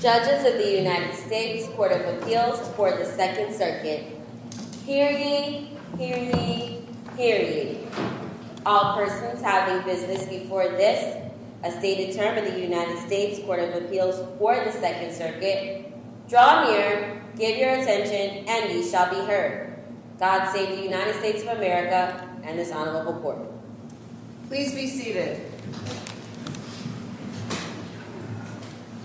Judges of the United States Court of Appeals for the Second Circuit, hear ye, hear ye, hear ye. All persons having business before this, a stated term of the United States Court of Appeals for the Second Circuit, God save the United States of America and this honorable court. Please be seated.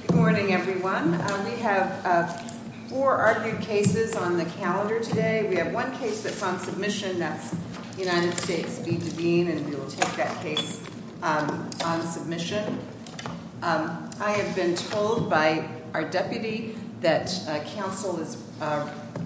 Good morning, everyone. We have four argued cases on the calendar today. We have one case that's on submission, that's United States v. Devine, and we will take that case on submission. I have been told by our deputy that counsel is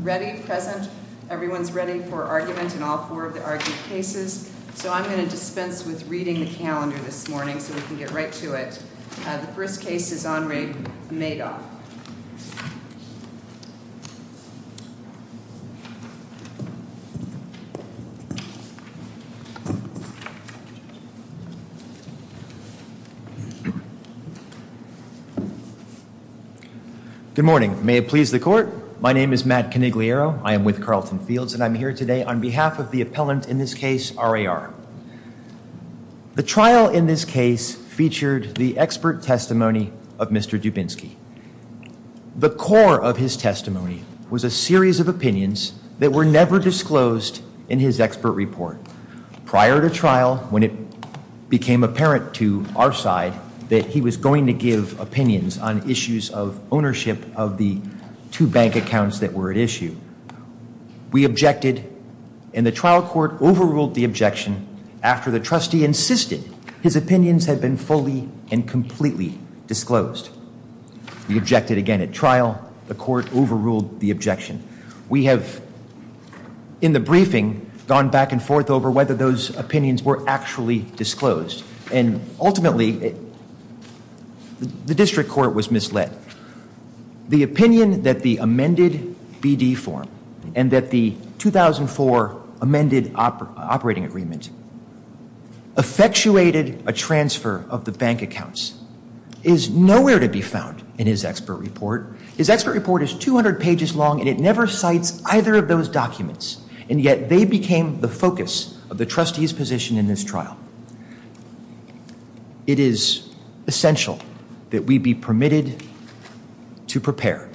ready, present. Everyone's ready for argument in all four of the argued cases. So I'm going to dispense with reading the calendar this morning so we can get right to it. The first case is on rig Madoff. Good morning. May it please the court. My name is Matt Canigliaro. I am with Carlton Fields and I'm here today on behalf of the appellant in this case, R.A.R. The trial in this case featured the expert testimony of Mr. Dubinsky. The core of his testimony was a series of opinions that were never disclosed in his expert report. Prior to trial, when it became apparent to our side that he was going to give opinions on issues of ownership of the two bank accounts that were at issue, we objected and the trial court overruled the objection after the trustee insisted his opinions had been fully and completely disclosed. We objected again at trial. The court overruled the objection. We have, in the briefing, gone back and forth over whether those opinions were actually disclosed. And ultimately, the district court was misled. The opinion that the amended BD form and that the 2004 amended operating agreement effectuated a transfer of the bank accounts is nowhere to be found in his expert report. His expert report is 200 pages long and it never cites either of those documents. And yet, they became the focus of the trustee's position in this trial. It is essential that we be permitted to prepare.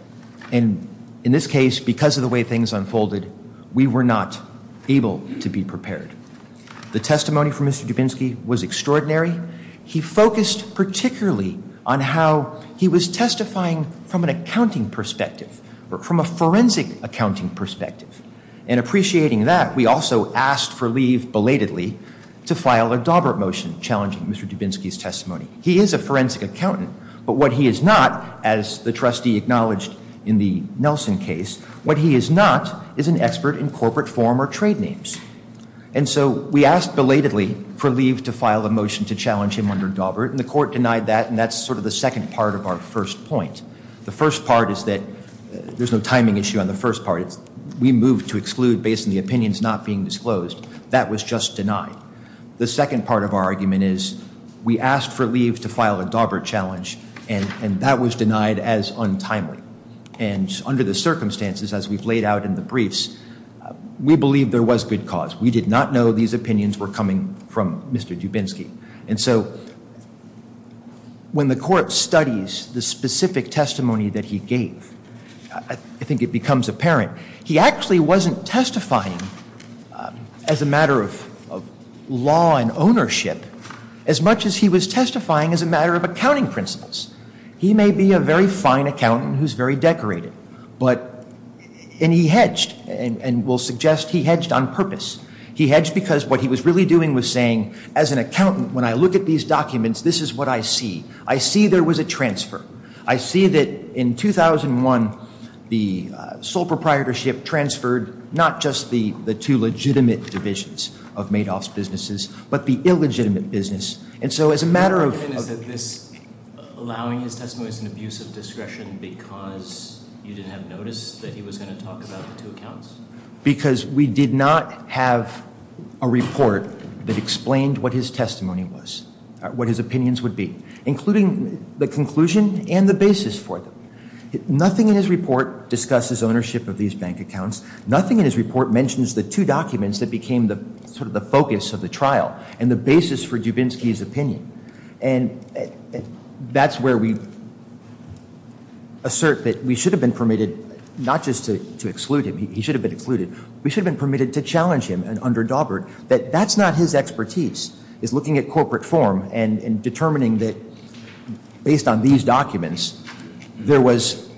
And in this case, because of the way things unfolded, we were not able to be prepared. The testimony from Mr. Dubinsky was extraordinary. He focused particularly on how he was testifying from an accounting perspective or from a forensic accounting perspective. And appreciating that, we also asked for leave belatedly to file a Dawbert motion challenging Mr. Dubinsky's testimony. He is a forensic accountant, but what he is not, as the trustee acknowledged in the Nelson case, what he is not is an expert in corporate form or trade names. And so, we asked belatedly for leave to file a motion to challenge him under Dawbert, and the court denied that, and that's sort of the second part of our first point. The first part is that there's no timing issue on the first part. We moved to exclude based on the opinions not being disclosed. That was just denied. The second part of our argument is we asked for leave to file a Dawbert challenge, and that was denied as untimely. And under the circumstances, as we've laid out in the briefs, we believe there was good cause. We did not know these opinions were coming from Mr. Dubinsky. And so, when the court studies the specific testimony that he gave, I think it becomes apparent, he actually wasn't testifying as a matter of law and ownership as much as he was testifying as a matter of accounting principles. He may be a very fine accountant who's very decorated, and he hedged, and we'll suggest he hedged on purpose. He hedged because what he was really doing was saying, as an accountant, when I look at these documents, this is what I see. I see there was a transfer. I see that in 2001, the sole proprietorship transferred not just the two legitimate divisions of Madoff's businesses, but the illegitimate business. And so, as a matter of- The argument is that this allowing his testimony is an abuse of discretion because you didn't have notice that he was going to talk about the two accounts? Because we did not have a report that explained what his testimony was, what his opinions would be, including the conclusion and the basis for them. Nothing in his report discusses ownership of these bank accounts. Nothing in his report mentions the two documents that became sort of the focus of the trial and the basis for Dubinsky's opinion. And that's where we assert that we should have been permitted not just to exclude him. He should have been excluded. We should have been permitted to challenge him under Dawbert that that's not his expertise, is looking at corporate form and determining that, based on these documents, there was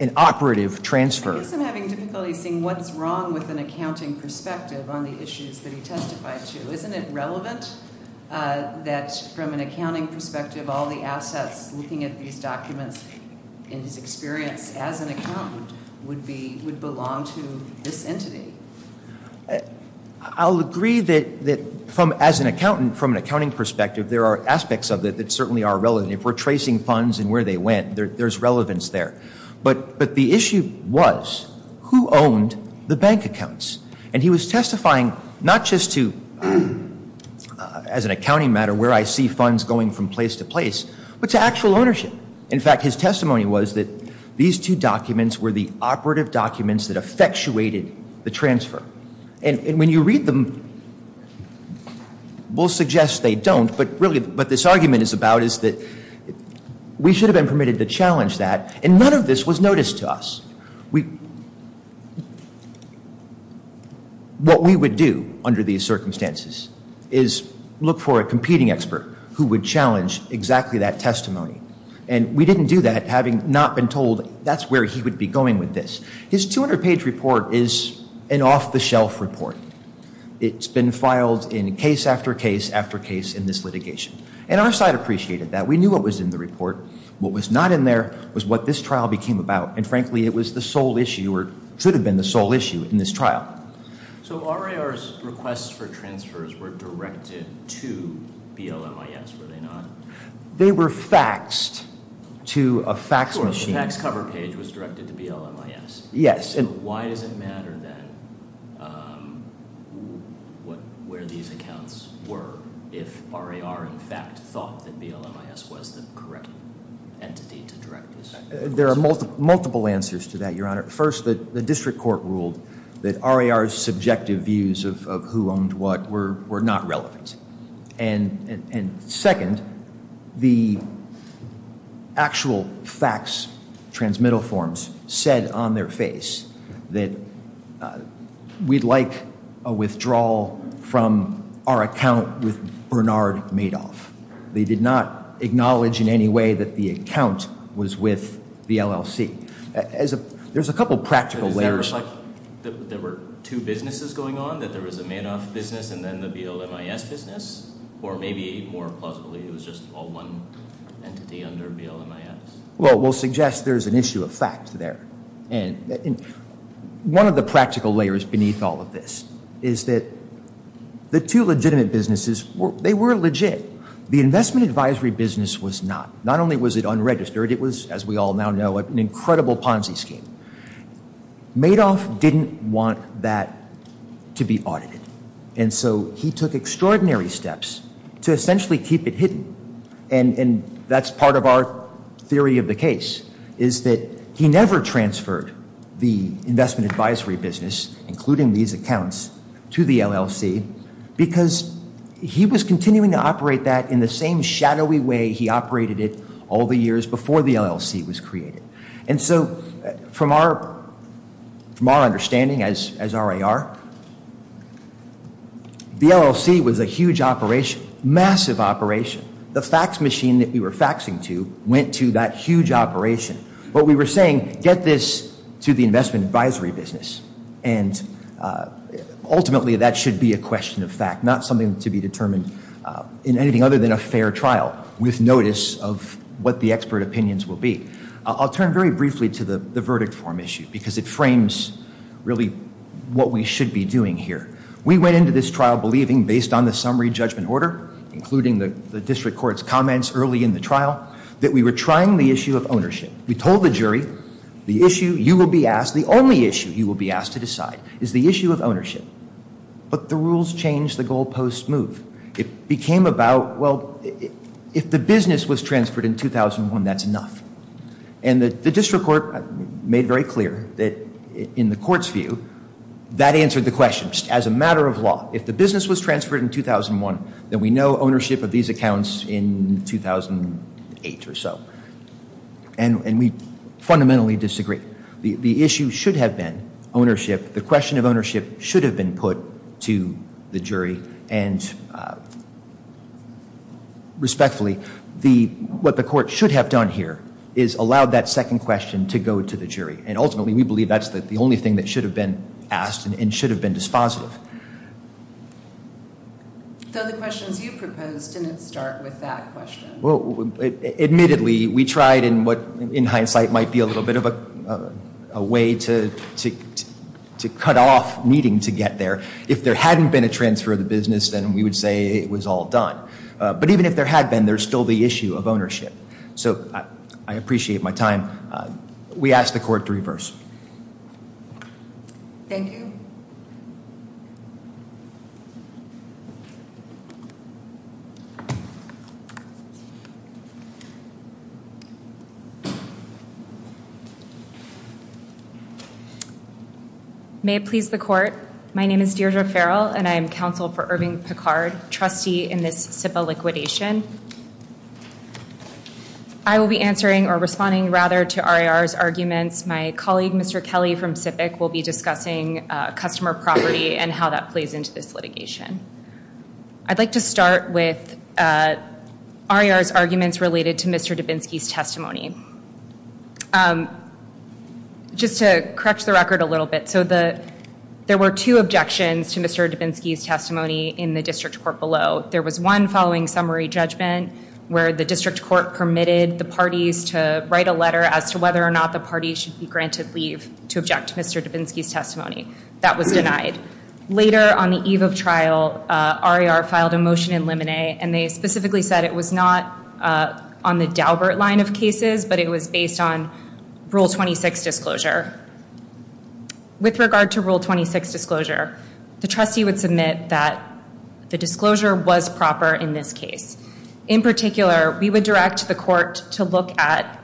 an operative transfer. I guess I'm having difficulty seeing what's wrong with an accounting perspective on the issues that he testified to. Isn't it relevant that, from an accounting perspective, all the assets looking at these documents in his experience as an accountant would belong to this entity? I'll agree that, as an accountant, from an accounting perspective, there are aspects of it that certainly are relevant. If we're tracing funds and where they went, there's relevance there. But the issue was, who owned the bank accounts? And he was testifying not just to, as an accounting matter, where I see funds going from place to place, but to actual ownership. In fact, his testimony was that these two documents were the operative documents that effectuated the transfer. And when you read them, we'll suggest they don't. But really, what this argument is about is that we should have been permitted to challenge that, and none of this was noticed to us. What we would do under these circumstances is look for a competing expert who would challenge exactly that testimony. And we didn't do that, having not been told that's where he would be going with this. His 200-page report is an off-the-shelf report. It's been filed in case after case after case in this litigation. And our side appreciated that. We knew what was in the report. What was not in there was what this trial became about. And frankly, it was the sole issue or should have been the sole issue in this trial. So RAR's requests for transfers were directed to BLMIS, were they not? They were faxed to a fax machine. Sure, the fax cover page was directed to BLMIS. Yes. So why does it matter then where these accounts were if RAR in fact thought that BLMIS was the correct entity to direct this? There are multiple answers to that, Your Honor. First, the district court ruled that RAR's subjective views of who owned what were not relevant. And second, the actual fax transmittal forms said on their face that we'd like a withdrawal from our account with Bernard Madoff. They did not acknowledge in any way that the account was with the LLC. There's a couple practical layers. Is that like there were two businesses going on, that there was a Madoff business and then the BLMIS business? Or maybe more plausibly it was just all one entity under BLMIS? Well, we'll suggest there's an issue of fact there. One of the practical layers beneath all of this is that the two legitimate businesses, they were legit. The investment advisory business was not. Not only was it unregistered, it was, as we all now know, an incredible Ponzi scheme. Madoff didn't want that to be audited. And so he took extraordinary steps to essentially keep it hidden. And that's part of our theory of the case, is that he never transferred the investment advisory business, including these accounts, to the LLC. Because he was continuing to operate that in the same shadowy way he operated it all the years before the LLC was created. And so from our understanding as RAR, the LLC was a huge operation, massive operation. The fax machine that we were faxing to went to that huge operation. What we were saying, get this to the investment advisory business. And ultimately that should be a question of fact, not something to be determined in anything other than a fair trial with notice of what the expert opinions will be. I'll turn very briefly to the verdict form issue, because it frames really what we should be doing here. We went into this trial believing, based on the summary judgment order, including the district court's comments early in the trial, that we were trying the issue of ownership. We told the jury, the issue you will be asked, the only issue you will be asked to decide, is the issue of ownership. But the rules changed, the goalposts moved. It became about, well, if the business was transferred in 2001, that's enough. And the district court made very clear that, in the court's view, that answered the question. As a matter of law, if the business was transferred in 2001, then we know ownership of these accounts in 2008 or so. And we fundamentally disagree. The issue should have been ownership. The question of ownership should have been put to the jury. And respectfully, what the court should have done here is allowed that second question to go to the jury. And ultimately we believe that's the only thing that should have been asked and should have been dispositive. So the questions you proposed didn't start with that question. Admittedly, we tried in what, in hindsight, might be a little bit of a way to cut off needing to get there. If there hadn't been a transfer of the business, then we would say it was all done. But even if there had been, there's still the issue of ownership. So I appreciate my time. We ask the court to reverse. Thank you. Thank you. May it please the court. My name is Deirdre Farrell, and I am counsel for Irving Picard, trustee in this SIPA liquidation. I will be answering or responding, rather, to RIR's arguments. My colleague, Mr. Kelly from SIPIC, will be discussing customer property and how that plays into this litigation. I'd like to start with RIR's arguments related to Mr. Dubinsky's testimony. Just to correct the record a little bit. So there were two objections to Mr. Dubinsky's testimony in the district court below. There was one following summary judgment where the district court permitted the parties to write a letter as to whether or not the parties should be granted leave to object to Mr. Dubinsky's testimony. That was denied. Later on the eve of trial, RIR filed a motion in limine. And they specifically said it was not on the Daubert line of cases, but it was based on Rule 26 disclosure. With regard to Rule 26 disclosure, the trustee would submit that the disclosure was proper in this case. In particular, we would direct the court to look at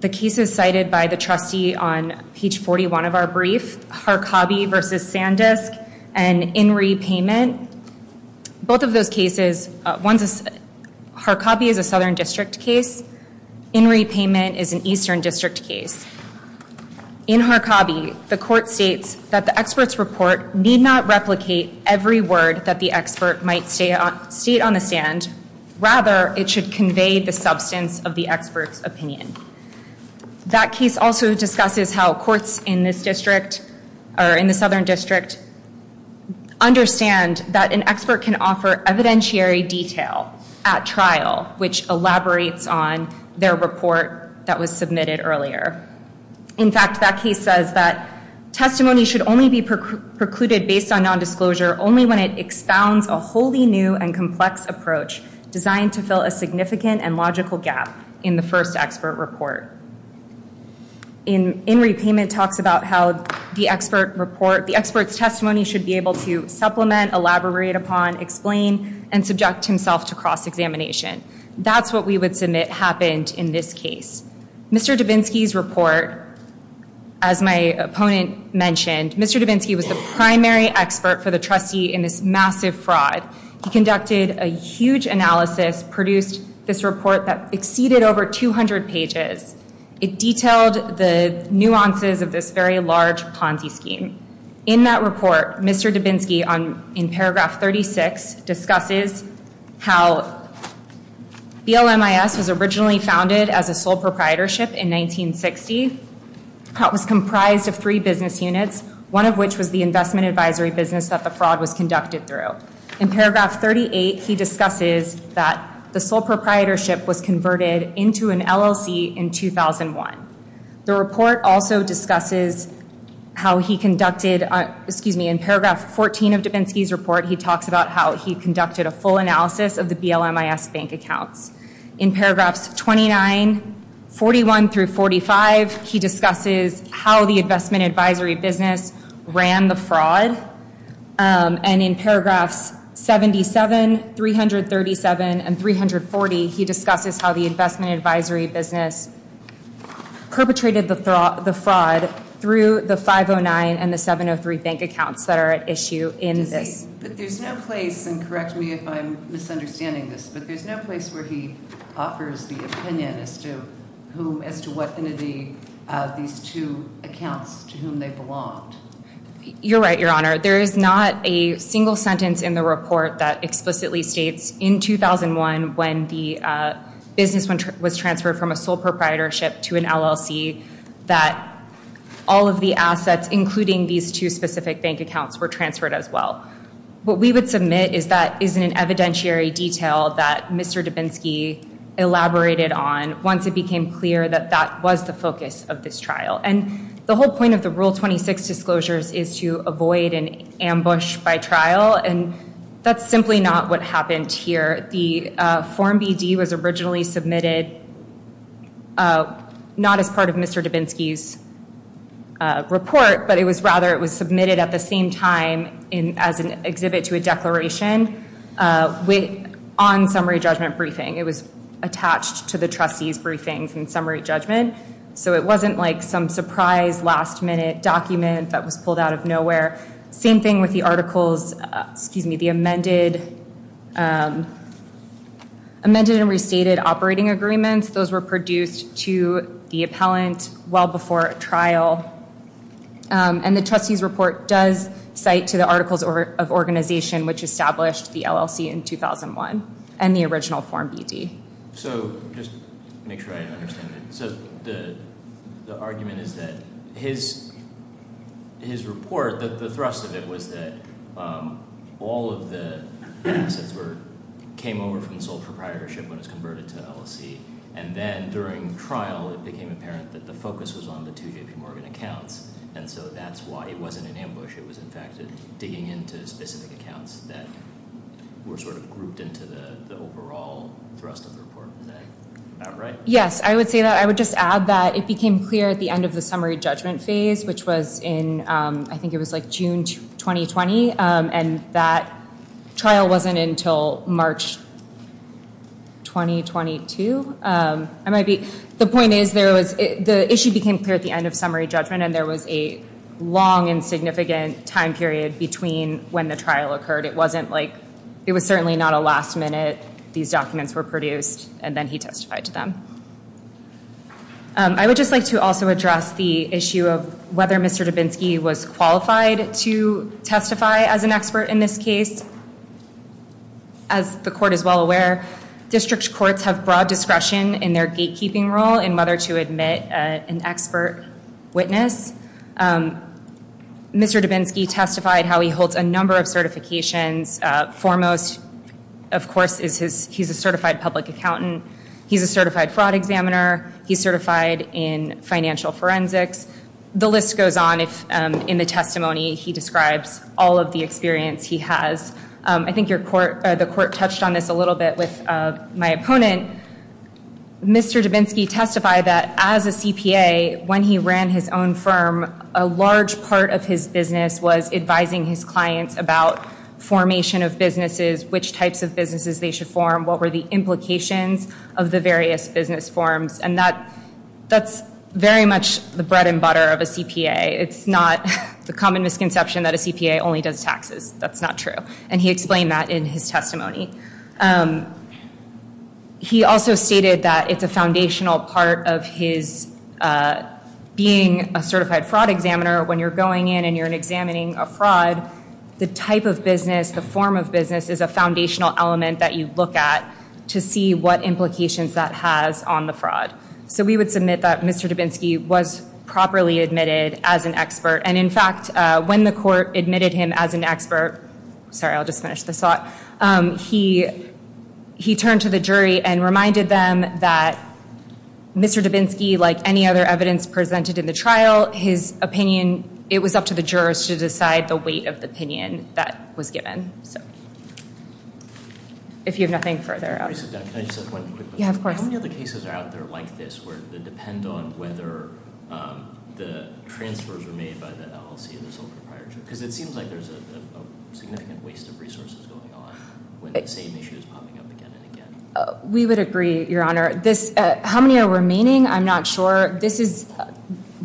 the cases cited by the trustee on page 41 of our brief, Harkabi v. Sandisk and Inree Payment. Both of those cases, Harkabi is a Southern District case. Inree Payment is an Eastern District case. In Harkabi, the court states that the expert's report need not replicate every word that the expert might state on the stand. Rather, it should convey the substance of the expert's opinion. That case also discusses how courts in this district or in the Southern District understand that an expert can offer evidentiary detail at trial, which elaborates on their report that was submitted earlier. In fact, that case says that testimony should only be precluded based on nondisclosure only when it expounds a wholly new and complex approach designed to fill a significant and logical gap in the first expert report. Inree Payment talks about how the expert's testimony should be able to supplement, elaborate upon, explain, and subject himself to cross-examination. That's what we would submit happened in this case. Mr. Dubinsky's report, as my opponent mentioned, Mr. Dubinsky was the primary expert for the trustee in this massive fraud. He conducted a huge analysis, produced this report that exceeded over 200 pages. It detailed the nuances of this very large Ponzi scheme. In that report, Mr. Dubinsky, in paragraph 36, discusses how BLMIS was originally founded as a sole proprietorship in 1960. It was comprised of three business units, one of which was the investment advisory business that the fraud was conducted through. In paragraph 38, he discusses that the sole proprietorship was converted into an LLC in 2001. The report also discusses how he conducted, excuse me, in paragraph 14 of Dubinsky's report, he talks about how he conducted a full analysis of the BLMIS bank accounts. In paragraphs 29, 41 through 45, he discusses how the investment advisory business ran the fraud. And in paragraphs 77, 337, and 340, he discusses how the investment advisory business perpetrated the fraud through the 509 and the 703 bank accounts that are at issue in this. But there's no place, and correct me if I'm misunderstanding this, but there's no place where he offers the opinion as to who, as to what, these two accounts, to whom they belonged. You're right, Your Honor. There is not a single sentence in the report that explicitly states, in 2001, when the business was transferred from a sole proprietorship to an LLC, that all of the assets, including these two specific bank accounts, were transferred as well. What we would submit is that isn't an evidentiary detail that Mr. Dubinsky elaborated on once it became clear that that was the focus of this trial. And the whole point of the Rule 26 disclosures is to avoid an ambush by trial, and that's simply not what happened here. The Form BD was originally submitted not as part of Mr. Dubinsky's report, but it was rather it was submitted at the same time as an exhibit to a declaration on summary judgment briefing. It was attached to the trustees' briefings in summary judgment. So it wasn't like some surprise, last-minute document that was pulled out of nowhere. Same thing with the amended and restated operating agreements. Those were produced to the appellant well before a trial, and the trustees' report does cite to the Articles of Organization, which established the LLC in 2001, and the original Form BD. So just to make sure I understand it, so the argument is that his report, the thrust of it was that all of the assets came over from the sole proprietorship when it was converted to an LLC, and then during trial it became apparent that the focus was on the two J.P. Morgan accounts, and so that's why it wasn't an ambush. It was, in fact, digging into specific accounts that were sort of grouped into the overall thrust of the report. Is that right? Yes, I would say that. I would just add that it became clear at the end of the summary judgment phase, which was in I think it was like June 2020, and that trial wasn't until March 2022. The point is the issue became clear at the end of summary judgment, and there was a long and significant time period between when the trial occurred. It was certainly not a last minute. These documents were produced, and then he testified to them. I would just like to also address the issue of whether Mr. Dubinsky was qualified to testify as an expert in this case. As the court is well aware, district courts have broad discretion in their gatekeeping role in whether to admit an expert witness. Mr. Dubinsky testified how he holds a number of certifications. Foremost, of course, is he's a certified public accountant. He's a certified fraud examiner. He's certified in financial forensics. The list goes on in the testimony. He describes all of the experience he has. I think the court touched on this a little bit with my opponent. Mr. Dubinsky testified that as a CPA, when he ran his own firm, a large part of his business was advising his clients about formation of businesses, which types of businesses they should form, what were the implications of the various business forms, and that's very much the bread and butter of a CPA. It's not the common misconception that a CPA only does taxes. That's not true, and he explained that in his testimony. He also stated that it's a foundational part of his being a certified fraud examiner. When you're going in and you're examining a fraud, the type of business, the form of business, is a foundational element that you look at to see what implications that has on the fraud. We would submit that Mr. Dubinsky was properly admitted as an expert, and in fact, when the court admitted him as an expert, he turned to the jury and reminded them that Mr. Dubinsky, like any other evidence presented in the trial, his opinion, it was up to the jurors to decide the weight of the opinion that was given. If you have nothing further. Can I just ask one quick question? Yeah, of course. How many other cases are out there like this where they depend on whether the transfers were made by the LLC or the sole proprietor? Because it seems like there's a significant waste of resources going on when the same issue is popping up again and again. We would agree, Your Honor. How many are remaining? I'm not sure. This is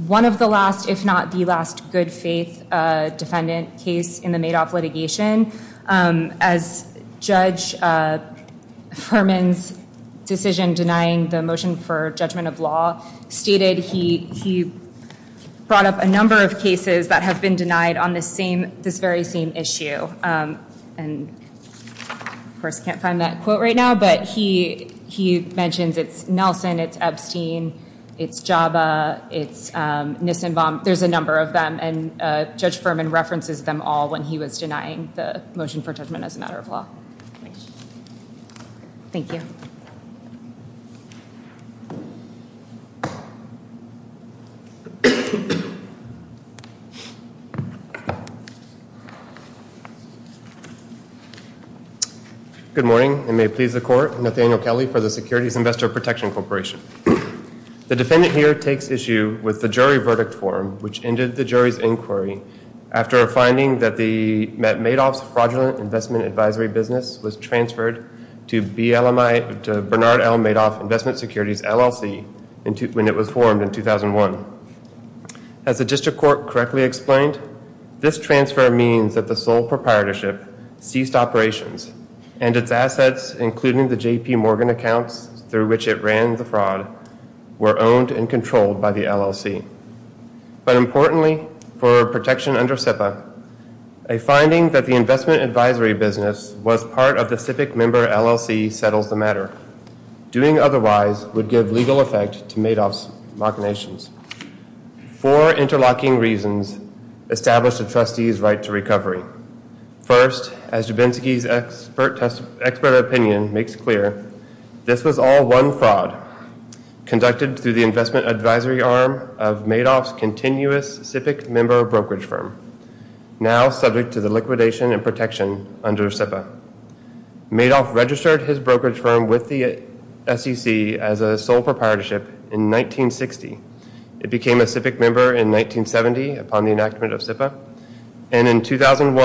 one of the last, if not the last, good faith defendant case in the Madoff litigation. As Judge Furman's decision denying the motion for judgment of law stated, he brought up a number of cases that have been denied on this very same issue. Of course, I can't find that quote right now, but he mentions it's Nelson, it's Epstein, it's Jabba, it's Nissenbaum. There's a number of them, and Judge Furman references them all when he was denying the motion for judgment as a matter of law. Thank you. Good morning, and may it please the Court. Nathaniel Kelly for the Securities Investor Protection Corporation. The defendant here takes issue with the jury verdict form, which ended the jury's inquiry after a finding that Madoff's fraudulent investment advisory business was transferred to Bernard L. Madoff Investment Securities LLC when it was formed in 2001. As the district court correctly explained, this transfer means that the sole proprietorship ceased operations and its assets, including the J.P. Morgan accounts through which it ran the fraud, were owned and controlled by the LLC. But importantly, for protection under SIPA, a finding that the investment advisory business was part of the SIPA member LLC settles the matter. Doing otherwise would give legal effect to Madoff's machinations. Four interlocking reasons establish the trustee's right to recovery. First, as Jabinski's expert opinion makes clear, this was all one fraud conducted through the investment advisory arm of Madoff's continuous SIPA member brokerage firm, now subject to the liquidation and protection under SIPA. Madoff registered his brokerage firm with the SEC as a sole proprietorship in 1960. It became a SIPIC member in 1970 upon the enactment of SIPA. And in 2001,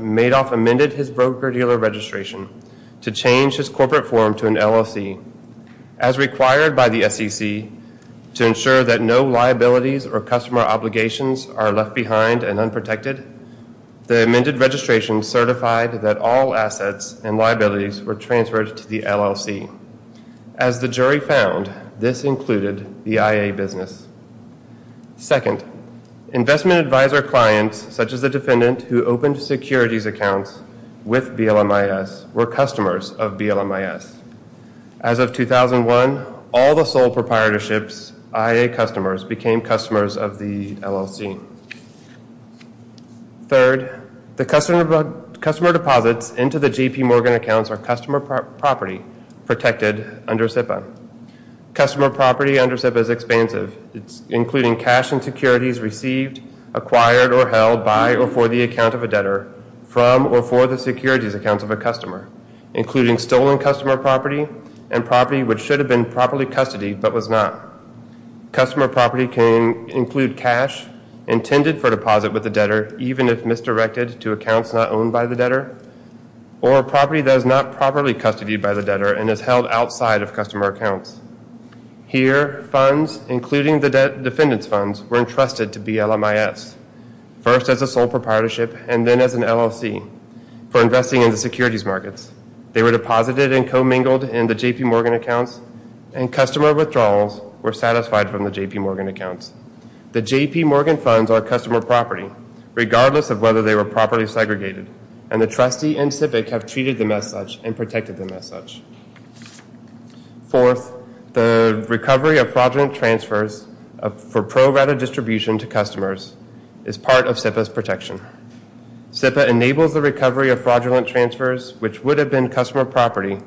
Madoff amended his broker-dealer registration to change his corporate form to an LLC, As required by the SEC to ensure that no liabilities or customer obligations are left behind and unprotected, the amended registration certified that all assets and liabilities were transferred to the LLC. As the jury found, this included the IA business. Second, investment advisor clients, such as the defendant who opened securities accounts with BLMIS, were customers of BLMIS. As of 2001, all the sole proprietorships, IA customers, became customers of the LLC. Third, the customer deposits into the JP Morgan accounts are customer property protected under SIPA. Customer property under SIPA is expansive, including cash and securities received, acquired or held by or for the account of a debtor from or for the securities accounts of a customer, including stolen customer property and property which should have been properly custodied but was not. Customer property can include cash intended for deposit with the debtor, even if misdirected to accounts not owned by the debtor, or property that is not properly custodied by the debtor and is held outside of customer accounts. Here, funds, including the defendant's funds, were entrusted to BLMIS, first as a sole proprietorship and then as an LLC, for investing in the securities markets. They were deposited and commingled in the JP Morgan accounts, and customer withdrawals were satisfied from the JP Morgan accounts. The JP Morgan funds are customer property, regardless of whether they were properly segregated, and the trustee and CIPIC have treated them as such and protected them as such. Fourth, the recovery of fraudulent transfers for pro rata distribution to customers is part of SIPA's protection. SIPA enables the recovery of fraudulent transfers which would have been customer property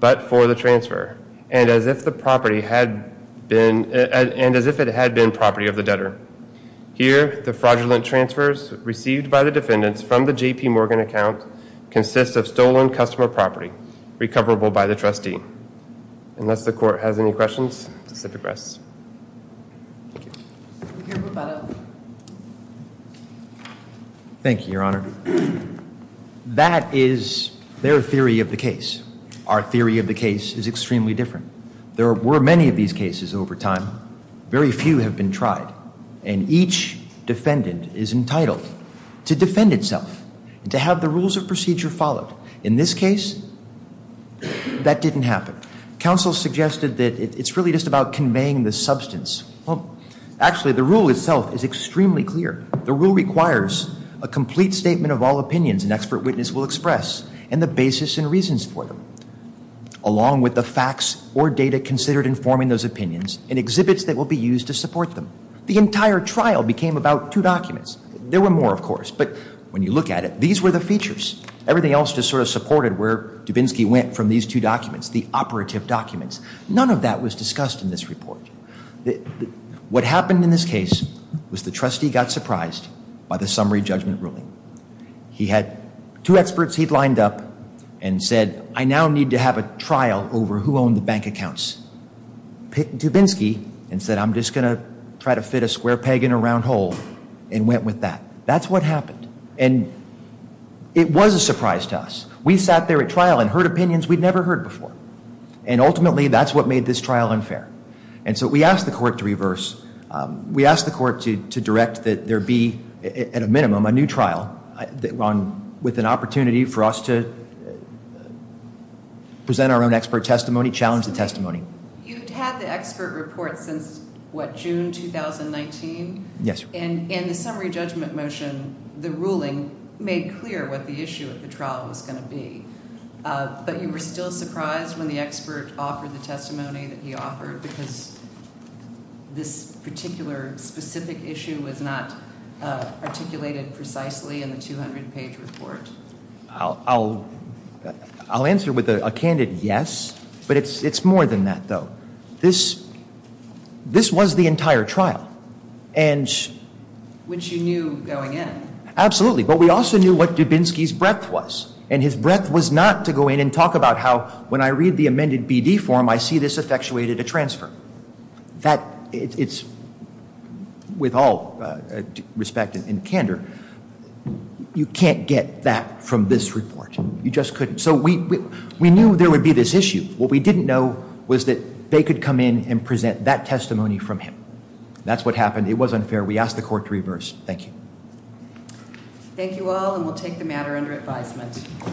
but for the transfer, and as if it had been property of the debtor. Here, the fraudulent transfers received by the defendants from the JP Morgan account consist of stolen customer property recoverable by the trustee. Unless the court has any questions, SIPA progresses. Thank you. Thank you, Your Honor. That is their theory of the case. Our theory of the case is extremely different. There were many of these cases over time. Very few have been tried, and each defendant is entitled to defend itself and to have the rules of procedure followed. In this case, that didn't happen. Counsel suggested that it's really just about conveying the substance. Well, actually, the rule itself is extremely clear. The rule requires a complete statement of all opinions an expert witness will express and the basis and reasons for them, along with the facts or data considered in forming those opinions and exhibits that will be used to support them. The entire trial became about two documents. There were more, of course, but when you look at it, these were the features. Everything else just sort of supported where Dubinsky went from these two documents, the operative documents. None of that was discussed in this report. What happened in this case was the trustee got surprised by the summary judgment ruling. He had two experts he'd lined up and said, I now need to have a trial over who owned the bank accounts. Dubinsky said, I'm just going to try to fit a square peg in a round hole and went with that. That's what happened. It was a surprise to us. We sat there at trial and heard opinions we'd never heard before. Ultimately, that's what made this trial unfair. We asked the court to reverse. We asked the court to direct that there be, at a minimum, a new trial with an opportunity for us to present our own expert testimony, challenge the testimony. You've had the expert report since, what, June 2019? Yes. In the summary judgment motion, the ruling made clear what the issue of the trial was going to be, but you were still surprised when the expert offered the testimony that he offered because this particular specific issue was not articulated precisely in the 200-page report? I'll answer with a candid yes, but it's more than that, though. This was the entire trial. Which you knew going in. Absolutely. But we also knew what Dubinsky's breadth was, and his breadth was not to go in and talk about how, when I read the amended BD form, I see this effectuated a transfer. It's, with all respect and candor, you can't get that from this report. You just couldn't. So we knew there would be this issue. What we didn't know was that they could come in and present that testimony from him. That's what happened. It was unfair. We asked the court to reverse. Thank you. Thank you all, and we'll take the matter under advisement.